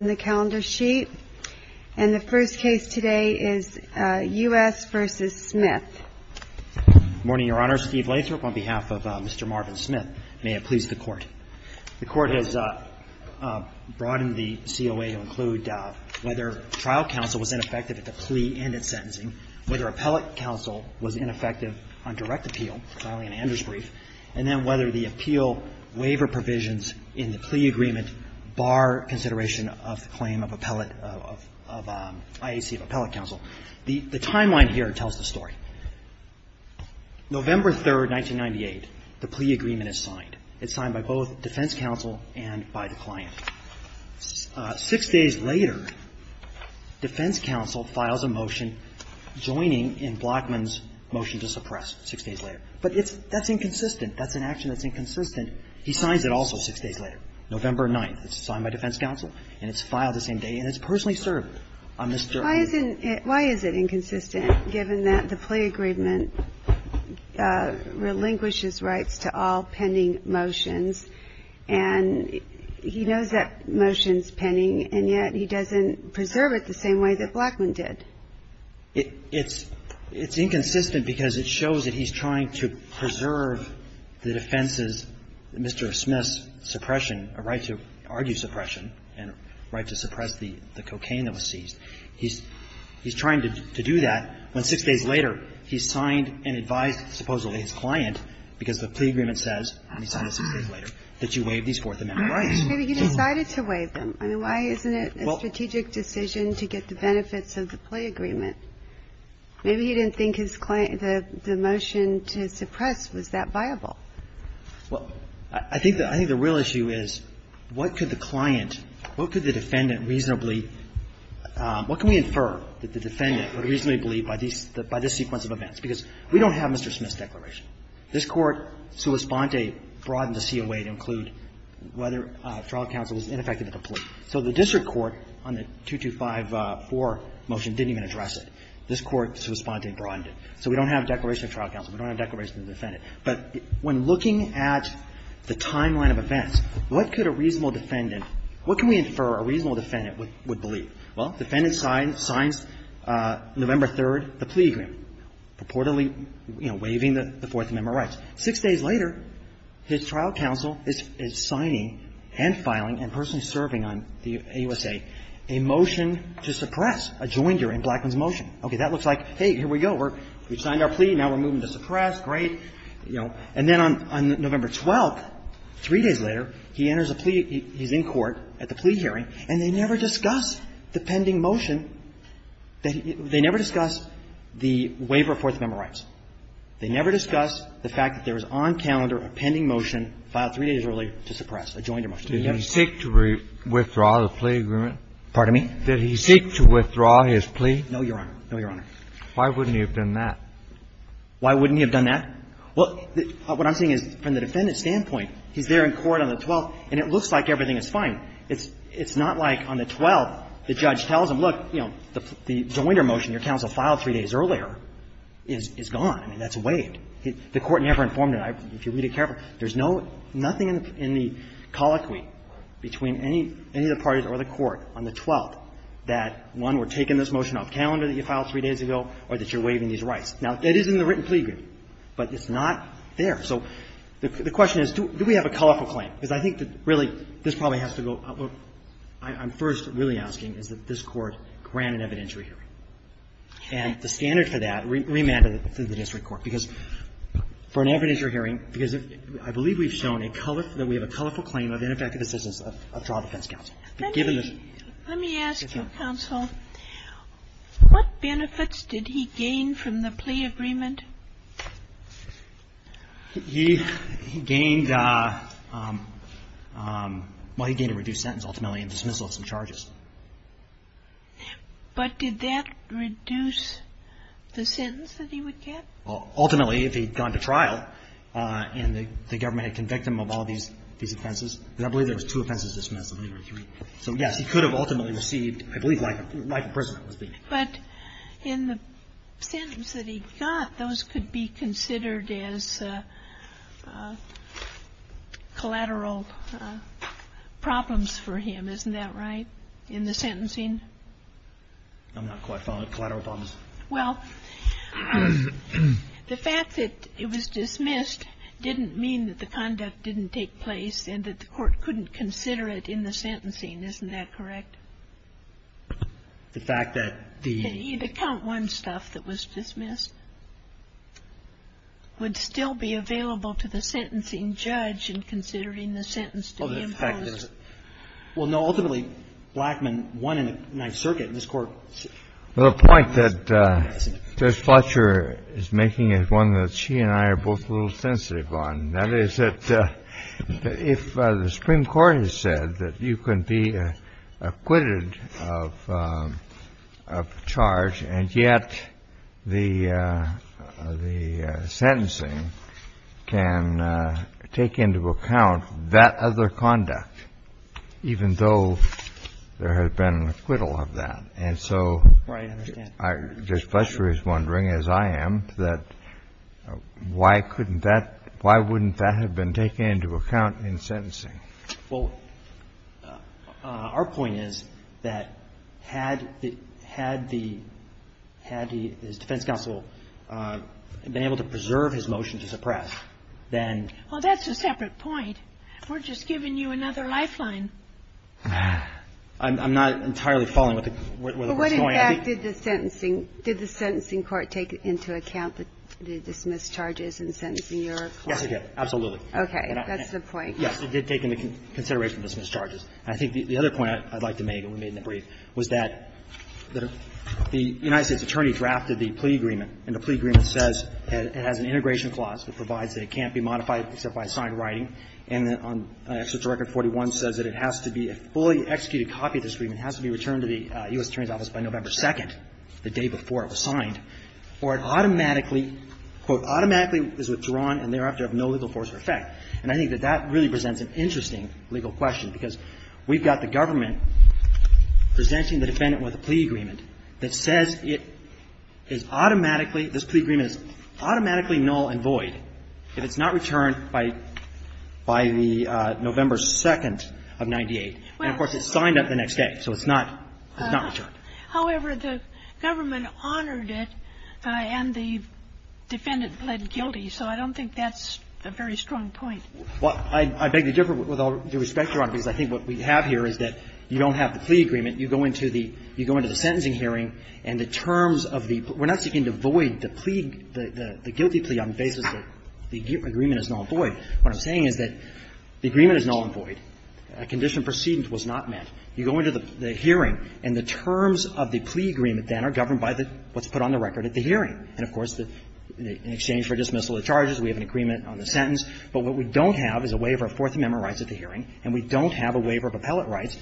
on behalf of Mr. Marvin Smith. May it please the Court. The Court has brought in the COA to include whether trial counsel was ineffective at the plea and its sentencing, whether appellate counsel was ineffective on direct appeal, filing an Anders brief, and then whether the defendant was not. The time line here tells the story. November 3, 1998, the plea agreement is signed. It's signed by both defense counsel and by the client. Six days later, defense counsel files a motion joining in Blackman's motion to suppress six days later. But that's inconsistent. That's an action that's inconsistent. He signs it also six days later, November 9th. It's signed by defense counsel, and it's filed the same day, and it's personally served on Mr. Marvin's motion. Why is it inconsistent, given that the plea agreement relinquishes rights to all pending motions, and he knows that motion's pending, and yet he doesn't preserve it the same way that Blackman did? It's inconsistent because it shows that he's trying to preserve the defense's, Mr. Smith's suppression, a right to argue suppression and a right to suppress the cocaine that was seized. He's trying to do that when, six days later, he signed and advised, supposedly, his client, because the plea agreement says, and he signed it six days later, that you waive these Fourth Amendment rights. But you decided to waive them. I mean, why isn't it a strategic decision to get the plaintiff to do that? I think the real issue is what could the client, what could the defendant reasonably – what can we infer that the defendant would reasonably believe by this sequence of events? Because we don't have Mr. Smith's declaration. This Court, sua sponte, broadened to see a way to include whether trial counsel was ineffective at the plea. So the district court on the 2254 motion didn't even address it. This Court, sua sponte, broadened it. So we don't have a declaration of trial counsel. We don't have a declaration of defendant. But when looking at the timeline of events, what could a reasonable defendant – what can we infer a reasonable defendant would believe? Well, defendant signs November 3rd the plea agreement, purportedly, you know, waiving the Fourth Amendment rights. Six days later, his trial counsel is signing and filing and personally serving on the AUSA a motion to suppress a joinder in Blackman's motion. Okay. That looks like, hey, here we go. We've signed our plea. Now we're moving to suppress. Great. You know. And then on November 12th, three days later, he enters a plea. He's in court at the plea hearing, and they never discuss the pending motion. They never discuss the waiver of Fourth Amendment rights. They never discuss the fact that there was on calendar a pending motion filed three days earlier to suppress a joinder motion. Did he seek to withdraw the plea agreement? Pardon me? Did he seek to withdraw his plea? No, Your Honor. No, Your Honor. Why wouldn't he have done that? Why wouldn't he have done that? Well, what I'm saying is, from the defendant's standpoint, he's there in court on the 12th, and it looks like everything is fine. It's not like on the 12th the judge tells him, look, you know, the joinder motion your counsel filed three days earlier is gone. I mean, that's waived. The court never informed him. If you read it carefully, there's no – nothing in the colloquy between any of the parties or the court on the 12th that, one, we're taking this motion off calendar that you filed three days ago or that you're waiving these rights. Now, it is in the written plea agreement, but it's not there. So the question is, do we have a colorful claim? Because I think that really this probably has to go – what I'm first really asking is that this Court grant an evidentiary hearing. And the standard for that, remanded to the district court, because for an evidentiary hearing, because I believe we've shown a colorful – that we have a colorful claim of ineffective assistance of trial defense counsel. Let me ask you, counsel, what benefits did he gain from the plea agreement? He gained – well, he gained a reduced sentence, ultimately, and dismissal of some charges. But did that reduce the sentence that he would get? Ultimately, if he'd gone to trial and the government had convicted him of all these offenses – because I believe there was two offenses dismissed, if any, or three. So, yes, he could have ultimately received, I believe, life imprisonment, let's be clear. But in the sentence that he got, those could be considered as collateral problems for him, isn't that right, in the sentencing? I'm not quite following. Collateral problems? Well, the fact that it was dismissed didn't mean that the conduct didn't take place and that the court couldn't consider it in the sentencing, isn't that correct? The fact that the – The count one stuff that was dismissed would still be available to the sentencing judge in considering the sentence to be imposed. Well, no, ultimately, Blackman won in the Ninth Circuit, and this Court – The point that Judge Fletcher is making is one that she and I are both a little sensitive on, and that is that if the Supreme Court has said that you can be acquitted of charge and yet the sentencing can take into account that other conduct, even though there has been an acquittal of that, and so Judge Fletcher is wondering, as I am, that why couldn't that – why wouldn't that have been taken into account in sentencing? Well, our point is that had the – had the – had his defense counsel been able to preserve his motion to suppress, then – Well, that's a separate point. We're just giving you another lifeline. I'm not entirely following where the Court's going. But what, in fact, did the sentencing – did the sentencing court take into account the dismissed charges in sentencing your claim? Yes, it did, absolutely. Okay. That's the point. Yes, it did take into consideration the dismissed charges. And I think the other point I'd like to make, and we made in the brief, was that the United States attorney drafted the plea agreement, and the plea agreement says it has an integration clause that provides that it can't be modified except by a signed writing, and on Executive Record 41 says that it has to be a fully executed copy of this agreement. It has to be returned to the U.S. Attorney's Office by November 2nd, the day before it was signed, or it automatically – quote, automatically is withdrawn and thereafter of no legal force or effect. And I think that that really presents an interesting legal question, because we've got the government presenting the defendant with a plea agreement that says it is automatically – this plea agreement is automatically null and void if it's not returned by the November 2nd of 98. And, of course, it's signed up the next day, so it's not – it's not returned. However, the government honored it, and the defendant pled guilty, so I don't think that's a very strong point. Well, I beg to differ with all due respect, Your Honor, because I think what we have here is that you don't have the plea agreement. You go into the – you go into the sentencing hearing, and the terms of the – we're not seeking to void the plea – the guilty plea on the basis that the agreement is null and void. What I'm saying is that the agreement is null and void. Condition precedence was not met. You go into the hearing, and the terms of the plea agreement, then, are governed by what's put on the record at the hearing. And, of course, in exchange for dismissal of charges, we have an agreement on the sentence. But what we don't have is a waiver of Fourth Amendment rights at the hearing, and we don't have a waiver of appellate rights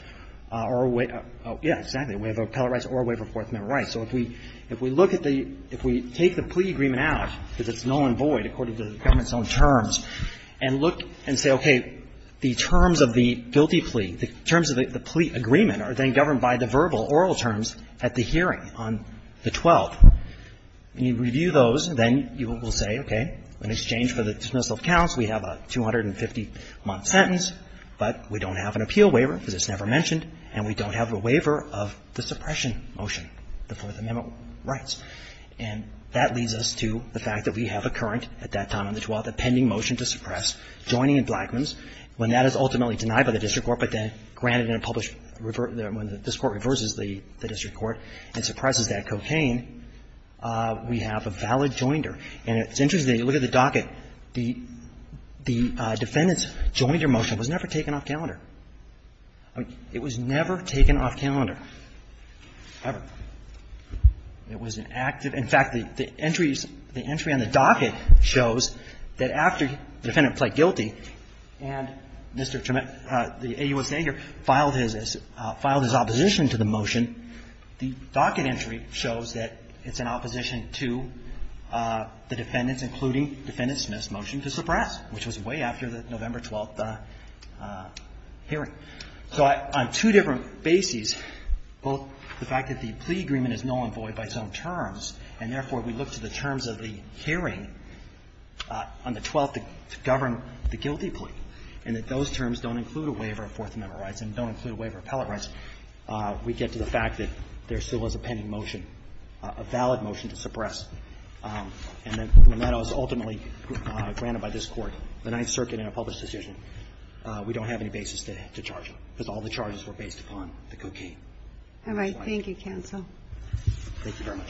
or – yeah, exactly – a waiver of appellate rights or a waiver of Fourth Amendment rights. So if we – if we look at the – if we take the plea agreement out, because it's null and void according to the government's own terms, and look and say, okay, the terms of the guilty plea, the terms of the plea agreement are then governed by the verbal, oral terms at the hearing on the 12th. When you review those, then you will say, okay, in exchange for the dismissal of counts, we have a 250-month sentence, but we don't have an appeal waiver because it's never mentioned, and we don't have a waiver of the suppression motion, the Fourth Amendment rights. And that leads us to the fact that we have a current at that time on the 12th, a pending motion to suppress joining in Blackman's. When that is ultimately denied by the district court, but then granted in a published – when the district court reverses the district court and suppresses that cocaine, we have a valid joinder. And it's interesting. If you look at the docket, the defendant's joinder motion was never taken off calendar. I mean, it was never taken off calendar, ever. It was an active – in fact, the entries – the entry on the docket shows that after the defendant pled guilty and Mr. Tremend – the AUSA here filed his opposition to the motion, the docket entry shows that it's in opposition to the motion that the defendants, including Defendant Smith's motion to suppress, which was way after the November 12th hearing. So on two different bases, both the fact that the plea agreement is null and void by its own terms, and therefore, we look to the terms of the hearing on the 12th to govern the guilty plea, and that those terms don't include a waiver of Fourth Amendment rights and don't include a waiver of appellate rights, we get to the fact that there still is a pending motion, a valid motion to suppress. And then when that is ultimately granted by this Court, the Ninth Circuit in a published decision, we don't have any basis to charge him, because all the charges were based upon the cocaine. All right. Thank you, counsel. Thank you very much.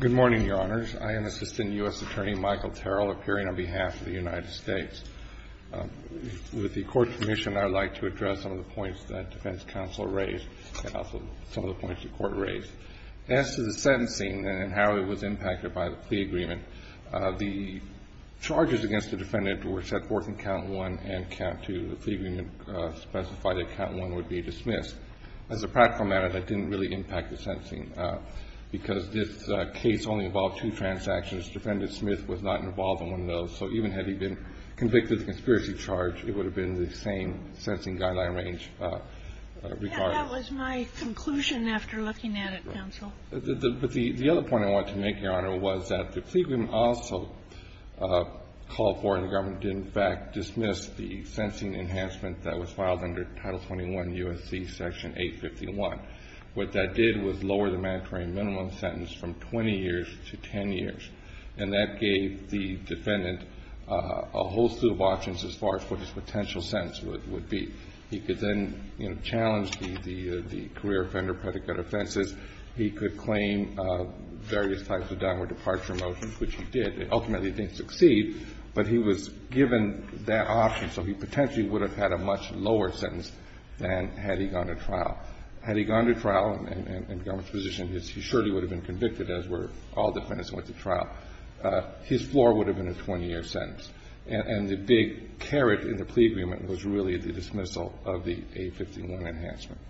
Good morning, Your Honors. I am Assistant U.S. Attorney Michael Terrell, appearing on behalf of the United States. With the Court's permission, I would like to address some of the points that defense counsel raised and also some of the points the Court raised. The charges against the defendant were set forth in count one and count two. The plea agreement specified that count one would be dismissed. As a practical matter, that didn't really impact the sentencing, because this case only involved two transactions. Defendant Smith was not involved in one of those. So even had he been convicted of the conspiracy charge, it would have been the same sentencing guideline range. That was my conclusion after looking at it, counsel. But the other point I wanted to make, Your Honor, was that the plea agreement also called for and the government did in fact dismiss the sentencing enhancement that was filed under Title 21 U.S.C. Section 851. What that did was lower the mandatory minimum sentence from 20 years to 10 years, and that gave the defendant a whole slew of options as far as what his potential sentence would be. He could then, you know, challenge the career offender predicate offenses. He could claim various types of downward departure motions, which he did. Ultimately, he didn't succeed, but he was given that option. So he potentially would have had a much lower sentence than had he gone to trial. Had he gone to trial and become a physician, he surely would have been convicted, as were all defendants who went to trial. His floor would have been a 20-year sentence. And the big carrot in the haystack is the dismissal of the 851 enhancement.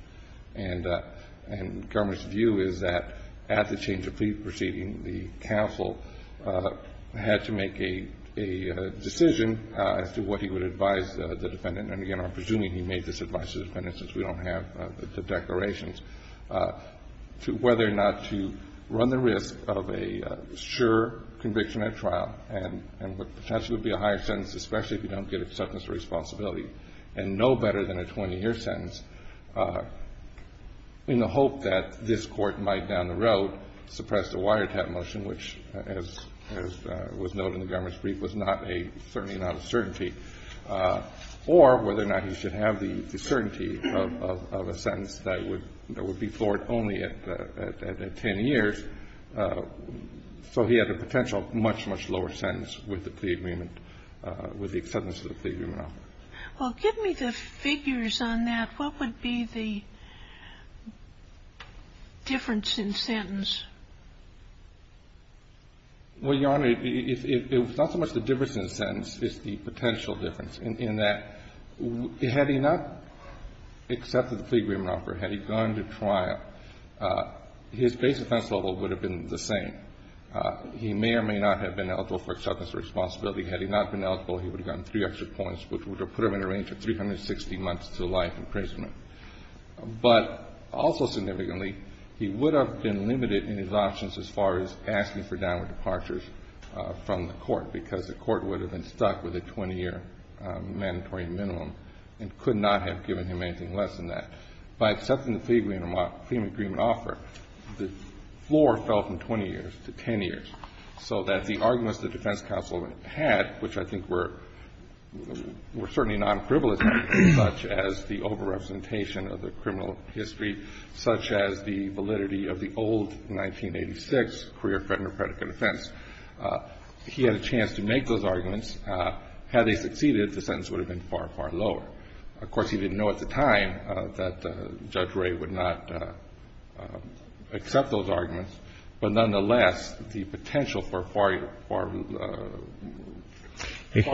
And government's view is that at the change of plea proceeding, the counsel had to make a decision as to what he would advise the defendant. And again, I'm presuming he made this advice to the defendant since we don't have the declarations, whether or not to run the risk of a sure conviction at trial and what potentially would be a higher sentence, especially if you don't get acceptance or responsibility, and no better than a 20-year sentence, in the hope that this Court might, down the road, suppress the wiretap motion, which, as was noted in the government's brief, was not a certain amount of certainty, or whether or not he should have the certainty of a sentence that would be floored only at 10 years. So he had a potential much, much lower sentence with the plea agreement, with the acceptance of the plea agreement offer. Well, give me the figures on that. What would be the difference in sentence? Well, Your Honor, it's not so much the difference in the sentence. It's the potential difference, in that had he not accepted the plea agreement offer, had he gone to trial, his base offense level would have been the same. He may or may not have been eligible for acceptance or responsibility. Had he not been eligible, he would have gotten three extra points, which would have put him in a range of 360 months to life imprisonment. But also significantly, he would have been limited in his options as far as asking for downward departures from the Court, because the Court would have been stuck with a 20-year mandatory minimum and could not have given him anything less than that. By accepting the plea agreement offer, the floor fell from 20 years to 10 years, so that the arguments the defense counsel had, which I think were certainly non-frivolous, such as the over-representation of the criminal history, such as the validity of the old 1986 career-threatening or predicate offense, he had a chance to make those arguments. Had they succeeded, the sentence would have been far, far lower. Of course, he didn't know at the time that Judge Ray would not accept those arguments. But nonetheless, the potential for a far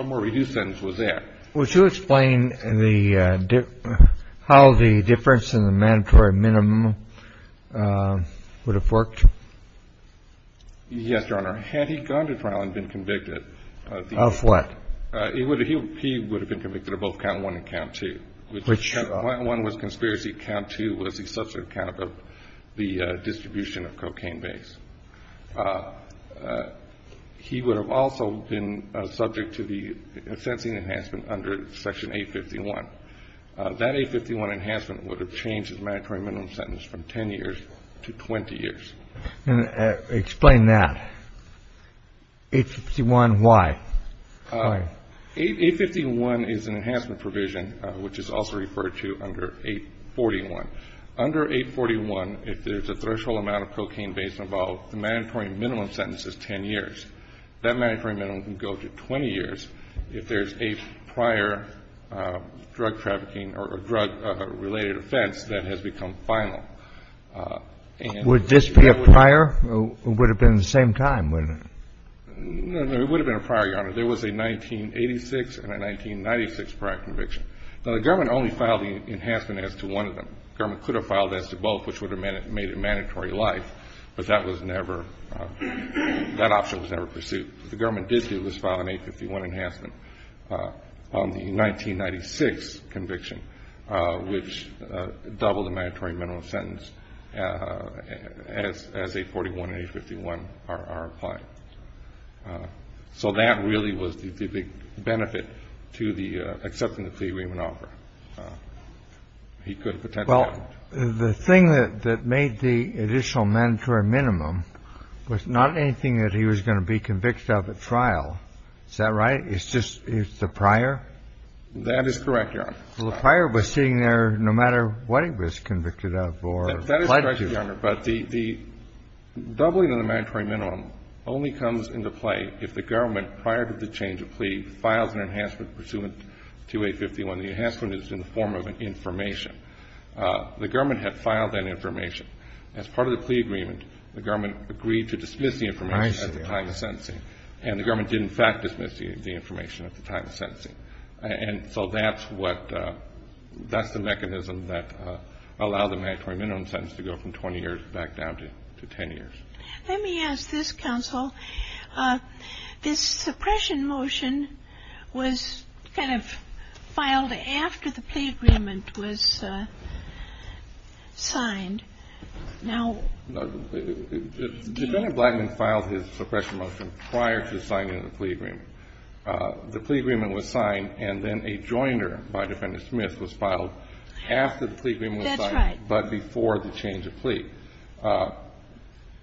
more reduced sentence was there. Would you explain how the difference in the mandatory minimum would have worked? Yes, Your Honor. Had he gone to trial and been convicted, he would have been convicted of both conspiracy count two, which one was conspiracy count two was the substantive count of the distribution of cocaine base. He would have also been subject to the sentencing enhancement under Section 851. That 851 enhancement would have changed his mandatory minimum sentence from 10 years to 20 years. Explain that. 851 why? 851 is an enhancement provision, which is also referred to under 841. Under 841, if there's a threshold amount of cocaine base involved, the mandatory minimum sentence is 10 years. That mandatory minimum can go to 20 years if there's a prior drug trafficking or drug-related offense that has become final. Would this be a prior or would it have been at the same time? No, no, it would have been a prior, Your Honor. There was a 1986 and a 1996 prior conviction. Now, the government only filed the enhancement as to one of them. The government could have filed as to both, which would have made it mandatory life, but that was never – that option was never pursued. What the government did do was file an 851 enhancement on the 1996 conviction, which doubled the mandatory minimum sentence as 841 and 851 are applied. So that really was the benefit to the acceptance of the plea we would offer. He could have potentially – Well, the thing that made the additional mandatory minimum was not anything that he was going to be convicted of at trial. Is that right? It's just – it's the prior? That is correct, Your Honor. Well, the prior was sitting there no matter what he was convicted of or applied to. That is correct, Your Honor. But the doubling of the mandatory minimum only comes into play if the government, prior to the change of plea, files an enhancement pursuant to 851. The enhancement is in the form of information. The government had filed that information. As part of the plea agreement, the government agreed to dismiss the information at the time of sentencing. I see. And the government did, in fact, dismiss the information at the time of sentencing. And so that's what – that's the mechanism that allowed the mandatory minimum sentence to go from 20 years back down to 10 years. Let me ask this, counsel. This suppression motion was kind of filed after the plea agreement was signed. Now – No. Defendant Blackman filed his suppression motion prior to signing the plea agreement. The plea agreement was signed and then a joiner by Defendant Smith was filed after the plea agreement was signed. That's right. But before the change of plea.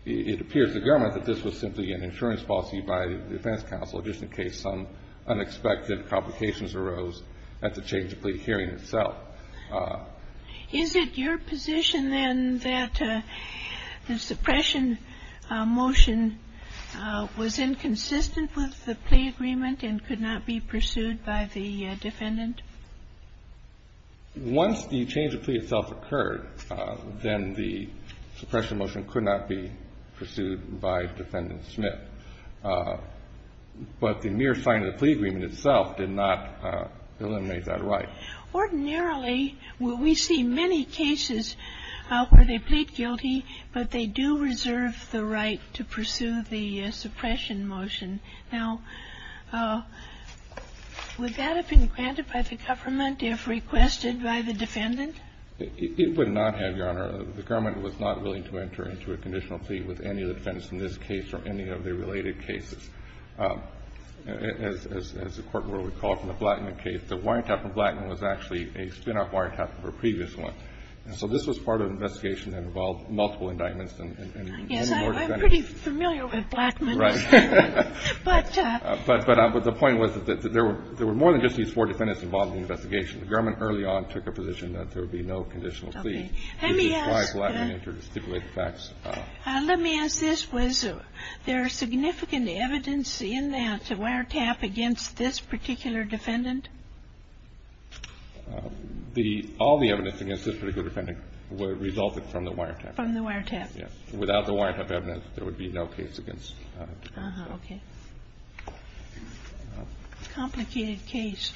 It appears to the government that this was simply an insurance policy by the defense counsel just in case some unexpected complications arose at the change of plea hearing itself. Is it your position, then, that the suppression motion was inconsistent with the plea agreement and could not be pursued by the defendant? Once the change of plea itself occurred, then the suppression motion could not be pursued by Defendant Smith. But the mere sign of the plea agreement itself did not eliminate that right. Ordinarily, we see many cases where they plead guilty, but they do reserve the right to pursue the suppression motion. Now, would that have been granted by the government if requested by the defendant? It would not have, Your Honor. The government was not willing to enter into a conditional plea with any of the defendants in this case or any of the related cases. As the Court will recall from the Blattman case, the wiretap from Blattman was actually a spin-off wiretap from a previous one. So this was part of an investigation that involved multiple indictments and only four defendants. Yes, I'm pretty familiar with Blattman. Right. But the point was that there were more than just these four defendants involved in the investigation. The government early on took a position that there would be no conditional plea. Okay. Let me ask. This is why Blattman entered to stipulate the facts. Let me ask this. Was there significant evidence in that wiretap against this particular defendant? All the evidence against this particular defendant resulted from the wiretap. From the wiretap. Yes. Without the wiretap evidence, there would be no case against the defendant. Okay. Complicated case.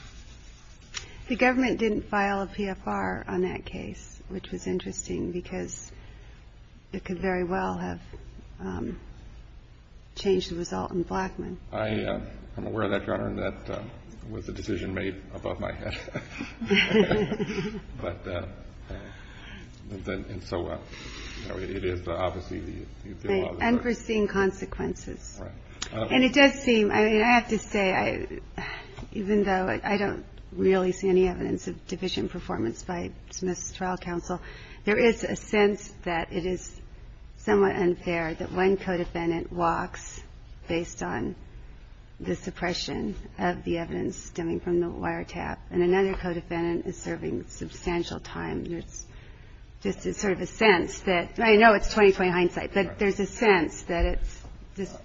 The government didn't file a PFR on that case, which was interesting because it could very well have changed the result in Blattman. I'm aware of that, Your Honor, and that was a decision made above my head. And so it is obviously the law. Right. Unforeseen consequences. Right. And it does seem, I mean, I have to say, even though I don't really see any evidence of division performance by Smith's trial counsel, there is a sense that it is somewhat unfair that one co-defendant walks based on the suppression of the evidence stemming from the wiretap, and another co-defendant is serving substantial time. There's just sort of a sense that – I know it's 20-20 hindsight, but there's a sense that it's just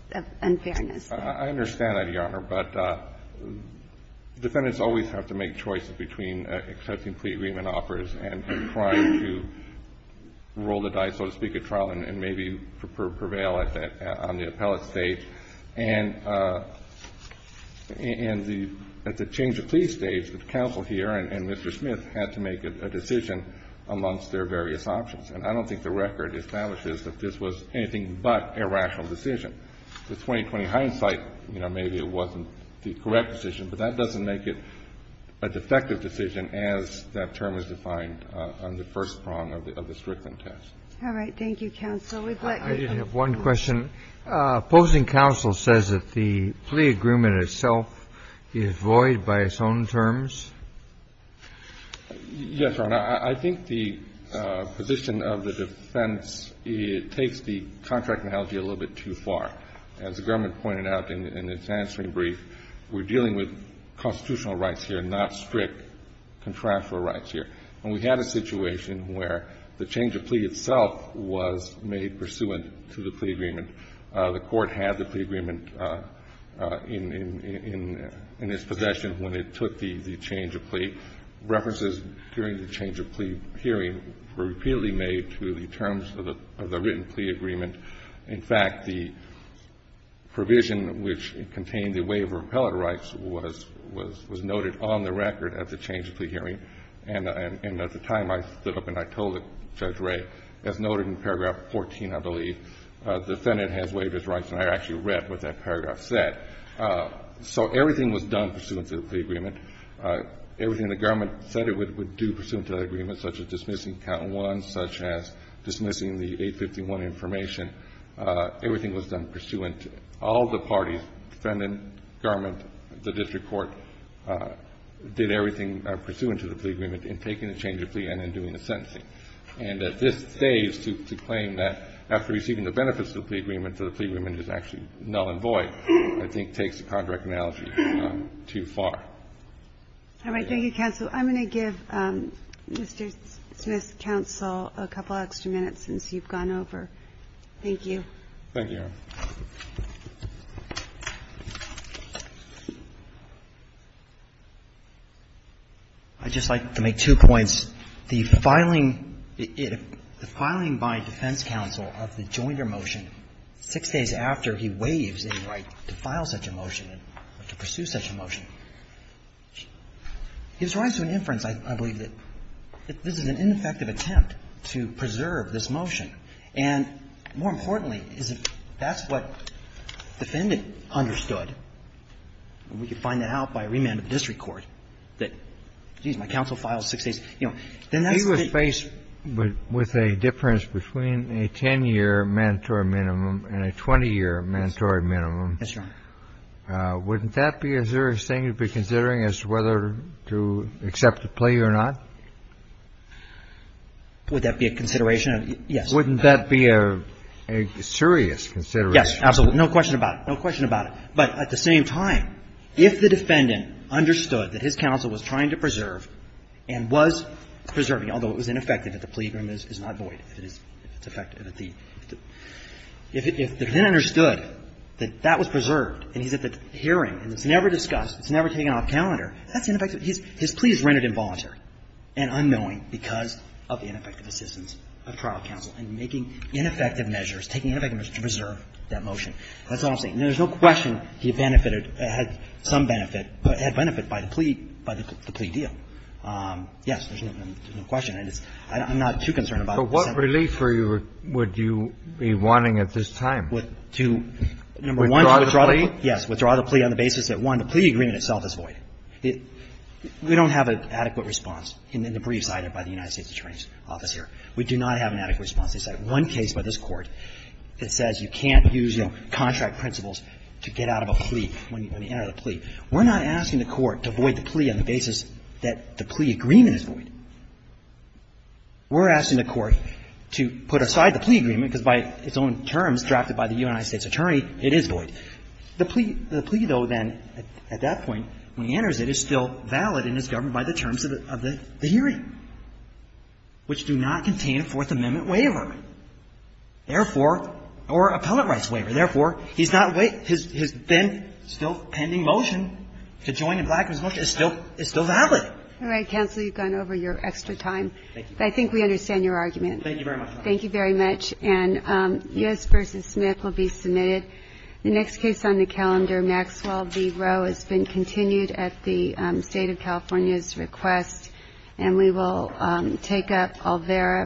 unfairness. I understand that, Your Honor, but defendants always have to make choices between accepting plea agreement offers and trying to roll the dice, so to speak, at trial and maybe prevail on the appellate stage. And at the change of plea stage, the counsel here and Mr. Smith had to make a decision amongst their various options. And I don't think the record establishes that this was anything but a rational decision. The 20-20 hindsight, you know, maybe it wasn't the correct decision, but that doesn't make it a defective decision as that term is defined on the first prong of the Strickland test. All right. Thank you, counsel. We've let you go. I have one question. Opposing counsel says that the plea agreement itself is void by its own terms? Yes, Your Honor. I think the position of the defense takes the contract analogy a little bit too far. As the government pointed out in its answering brief, we're dealing with constitutional rights here, not strict contractual rights here. And we had a situation where the change of plea itself was made pursuant to the plea agreement. The Court had the plea agreement in its possession when it took the change of plea. References during the change of plea hearing were repeatedly made to the terms of the written plea agreement. In fact, the provision which contained the waiver of appellate rights was noted on the record at the change of plea hearing. And at the time I stood up and I told Judge Ray, as noted in paragraph 14, I believe, the Senate has waived its rights. And I actually read what that paragraph said. So everything was done pursuant to the plea agreement. Everything the government said it would do pursuant to the agreement, such as dismissing count one, such as dismissing the 851 information, everything was done pursuant to it. All the parties, defendant, government, the district court, did everything pursuant to the plea agreement in taking the change of plea and in doing the sentencing. And at this stage, to claim that after receiving the benefits of the plea agreement is actually null and void, I think, takes the contract analogy too far. All right. Thank you, counsel. I'm going to give Mr. Smith's counsel a couple extra minutes since you've gone over. Thank you. Thank you, Your Honor. I'd just like to make two points. First, the filing by defense counsel of the Joyner motion, six days after he waives a right to file such a motion or to pursue such a motion, gives rise to an inference, I believe, that this is an ineffective attempt to preserve this motion. And more importantly, is that that's what the defendant understood, and we can find out by remand of the district court that, geez, my counsel files six days. You know, then that's the thing. If he was faced with a difference between a 10-year mandatory minimum and a 20-year mandatory minimum, wouldn't that be a serious thing to be considering as to whether to accept the plea or not? Would that be a consideration? Yes. Wouldn't that be a serious consideration? Absolutely. No question about it. But at the same time, if the defendant understood that his counsel was trying to preserve and was preserving, although it was ineffective if the plea agreement is not void, if it's effective, if the defendant understood that that was preserved and he's at the hearing and it's never discussed, it's never taken off calendar, that's ineffective. His plea is rendered involuntary and unknowing because of ineffective assistance of trial counsel in making ineffective measures, taking ineffective measures to preserve that motion. That's all I'm saying. There's no question he benefited, had some benefit, but had benefit by the plea, by the plea deal. Yes. There's no question. I'm not too concerned about it. But what relief would you be wanting at this time? To, number one, withdraw the plea. Yes. Withdraw the plea on the basis that, one, the plea agreement itself is void. We don't have an adequate response in the brief cited by the United States attorney's office here. We do not have an adequate response. They cite one case by this Court that says you can't use, you know, contract principles to get out of a plea, when you enter the plea. We're not asking the Court to void the plea on the basis that the plea agreement is void. We're asking the Court to put aside the plea agreement, because by its own terms, drafted by the United States attorney, it is void. The plea, though, then, at that point, when he enters it, is still valid and is governed by the terms of the hearing, which do not contain a Fourth Amendment waiver, therefore, or appellate rights waiver. Therefore, he's not wait his then still pending motion to join in Blackman's motion is still valid. All right, counsel. You've gone over your extra time. Thank you. I think we understand your argument. Thank you very much. Thank you very much. And U.S. v. Smith will be submitted. The next case on the calendar, Maxwell v. Rowe, has been continued at the State of California's request. And we will take up Alvera.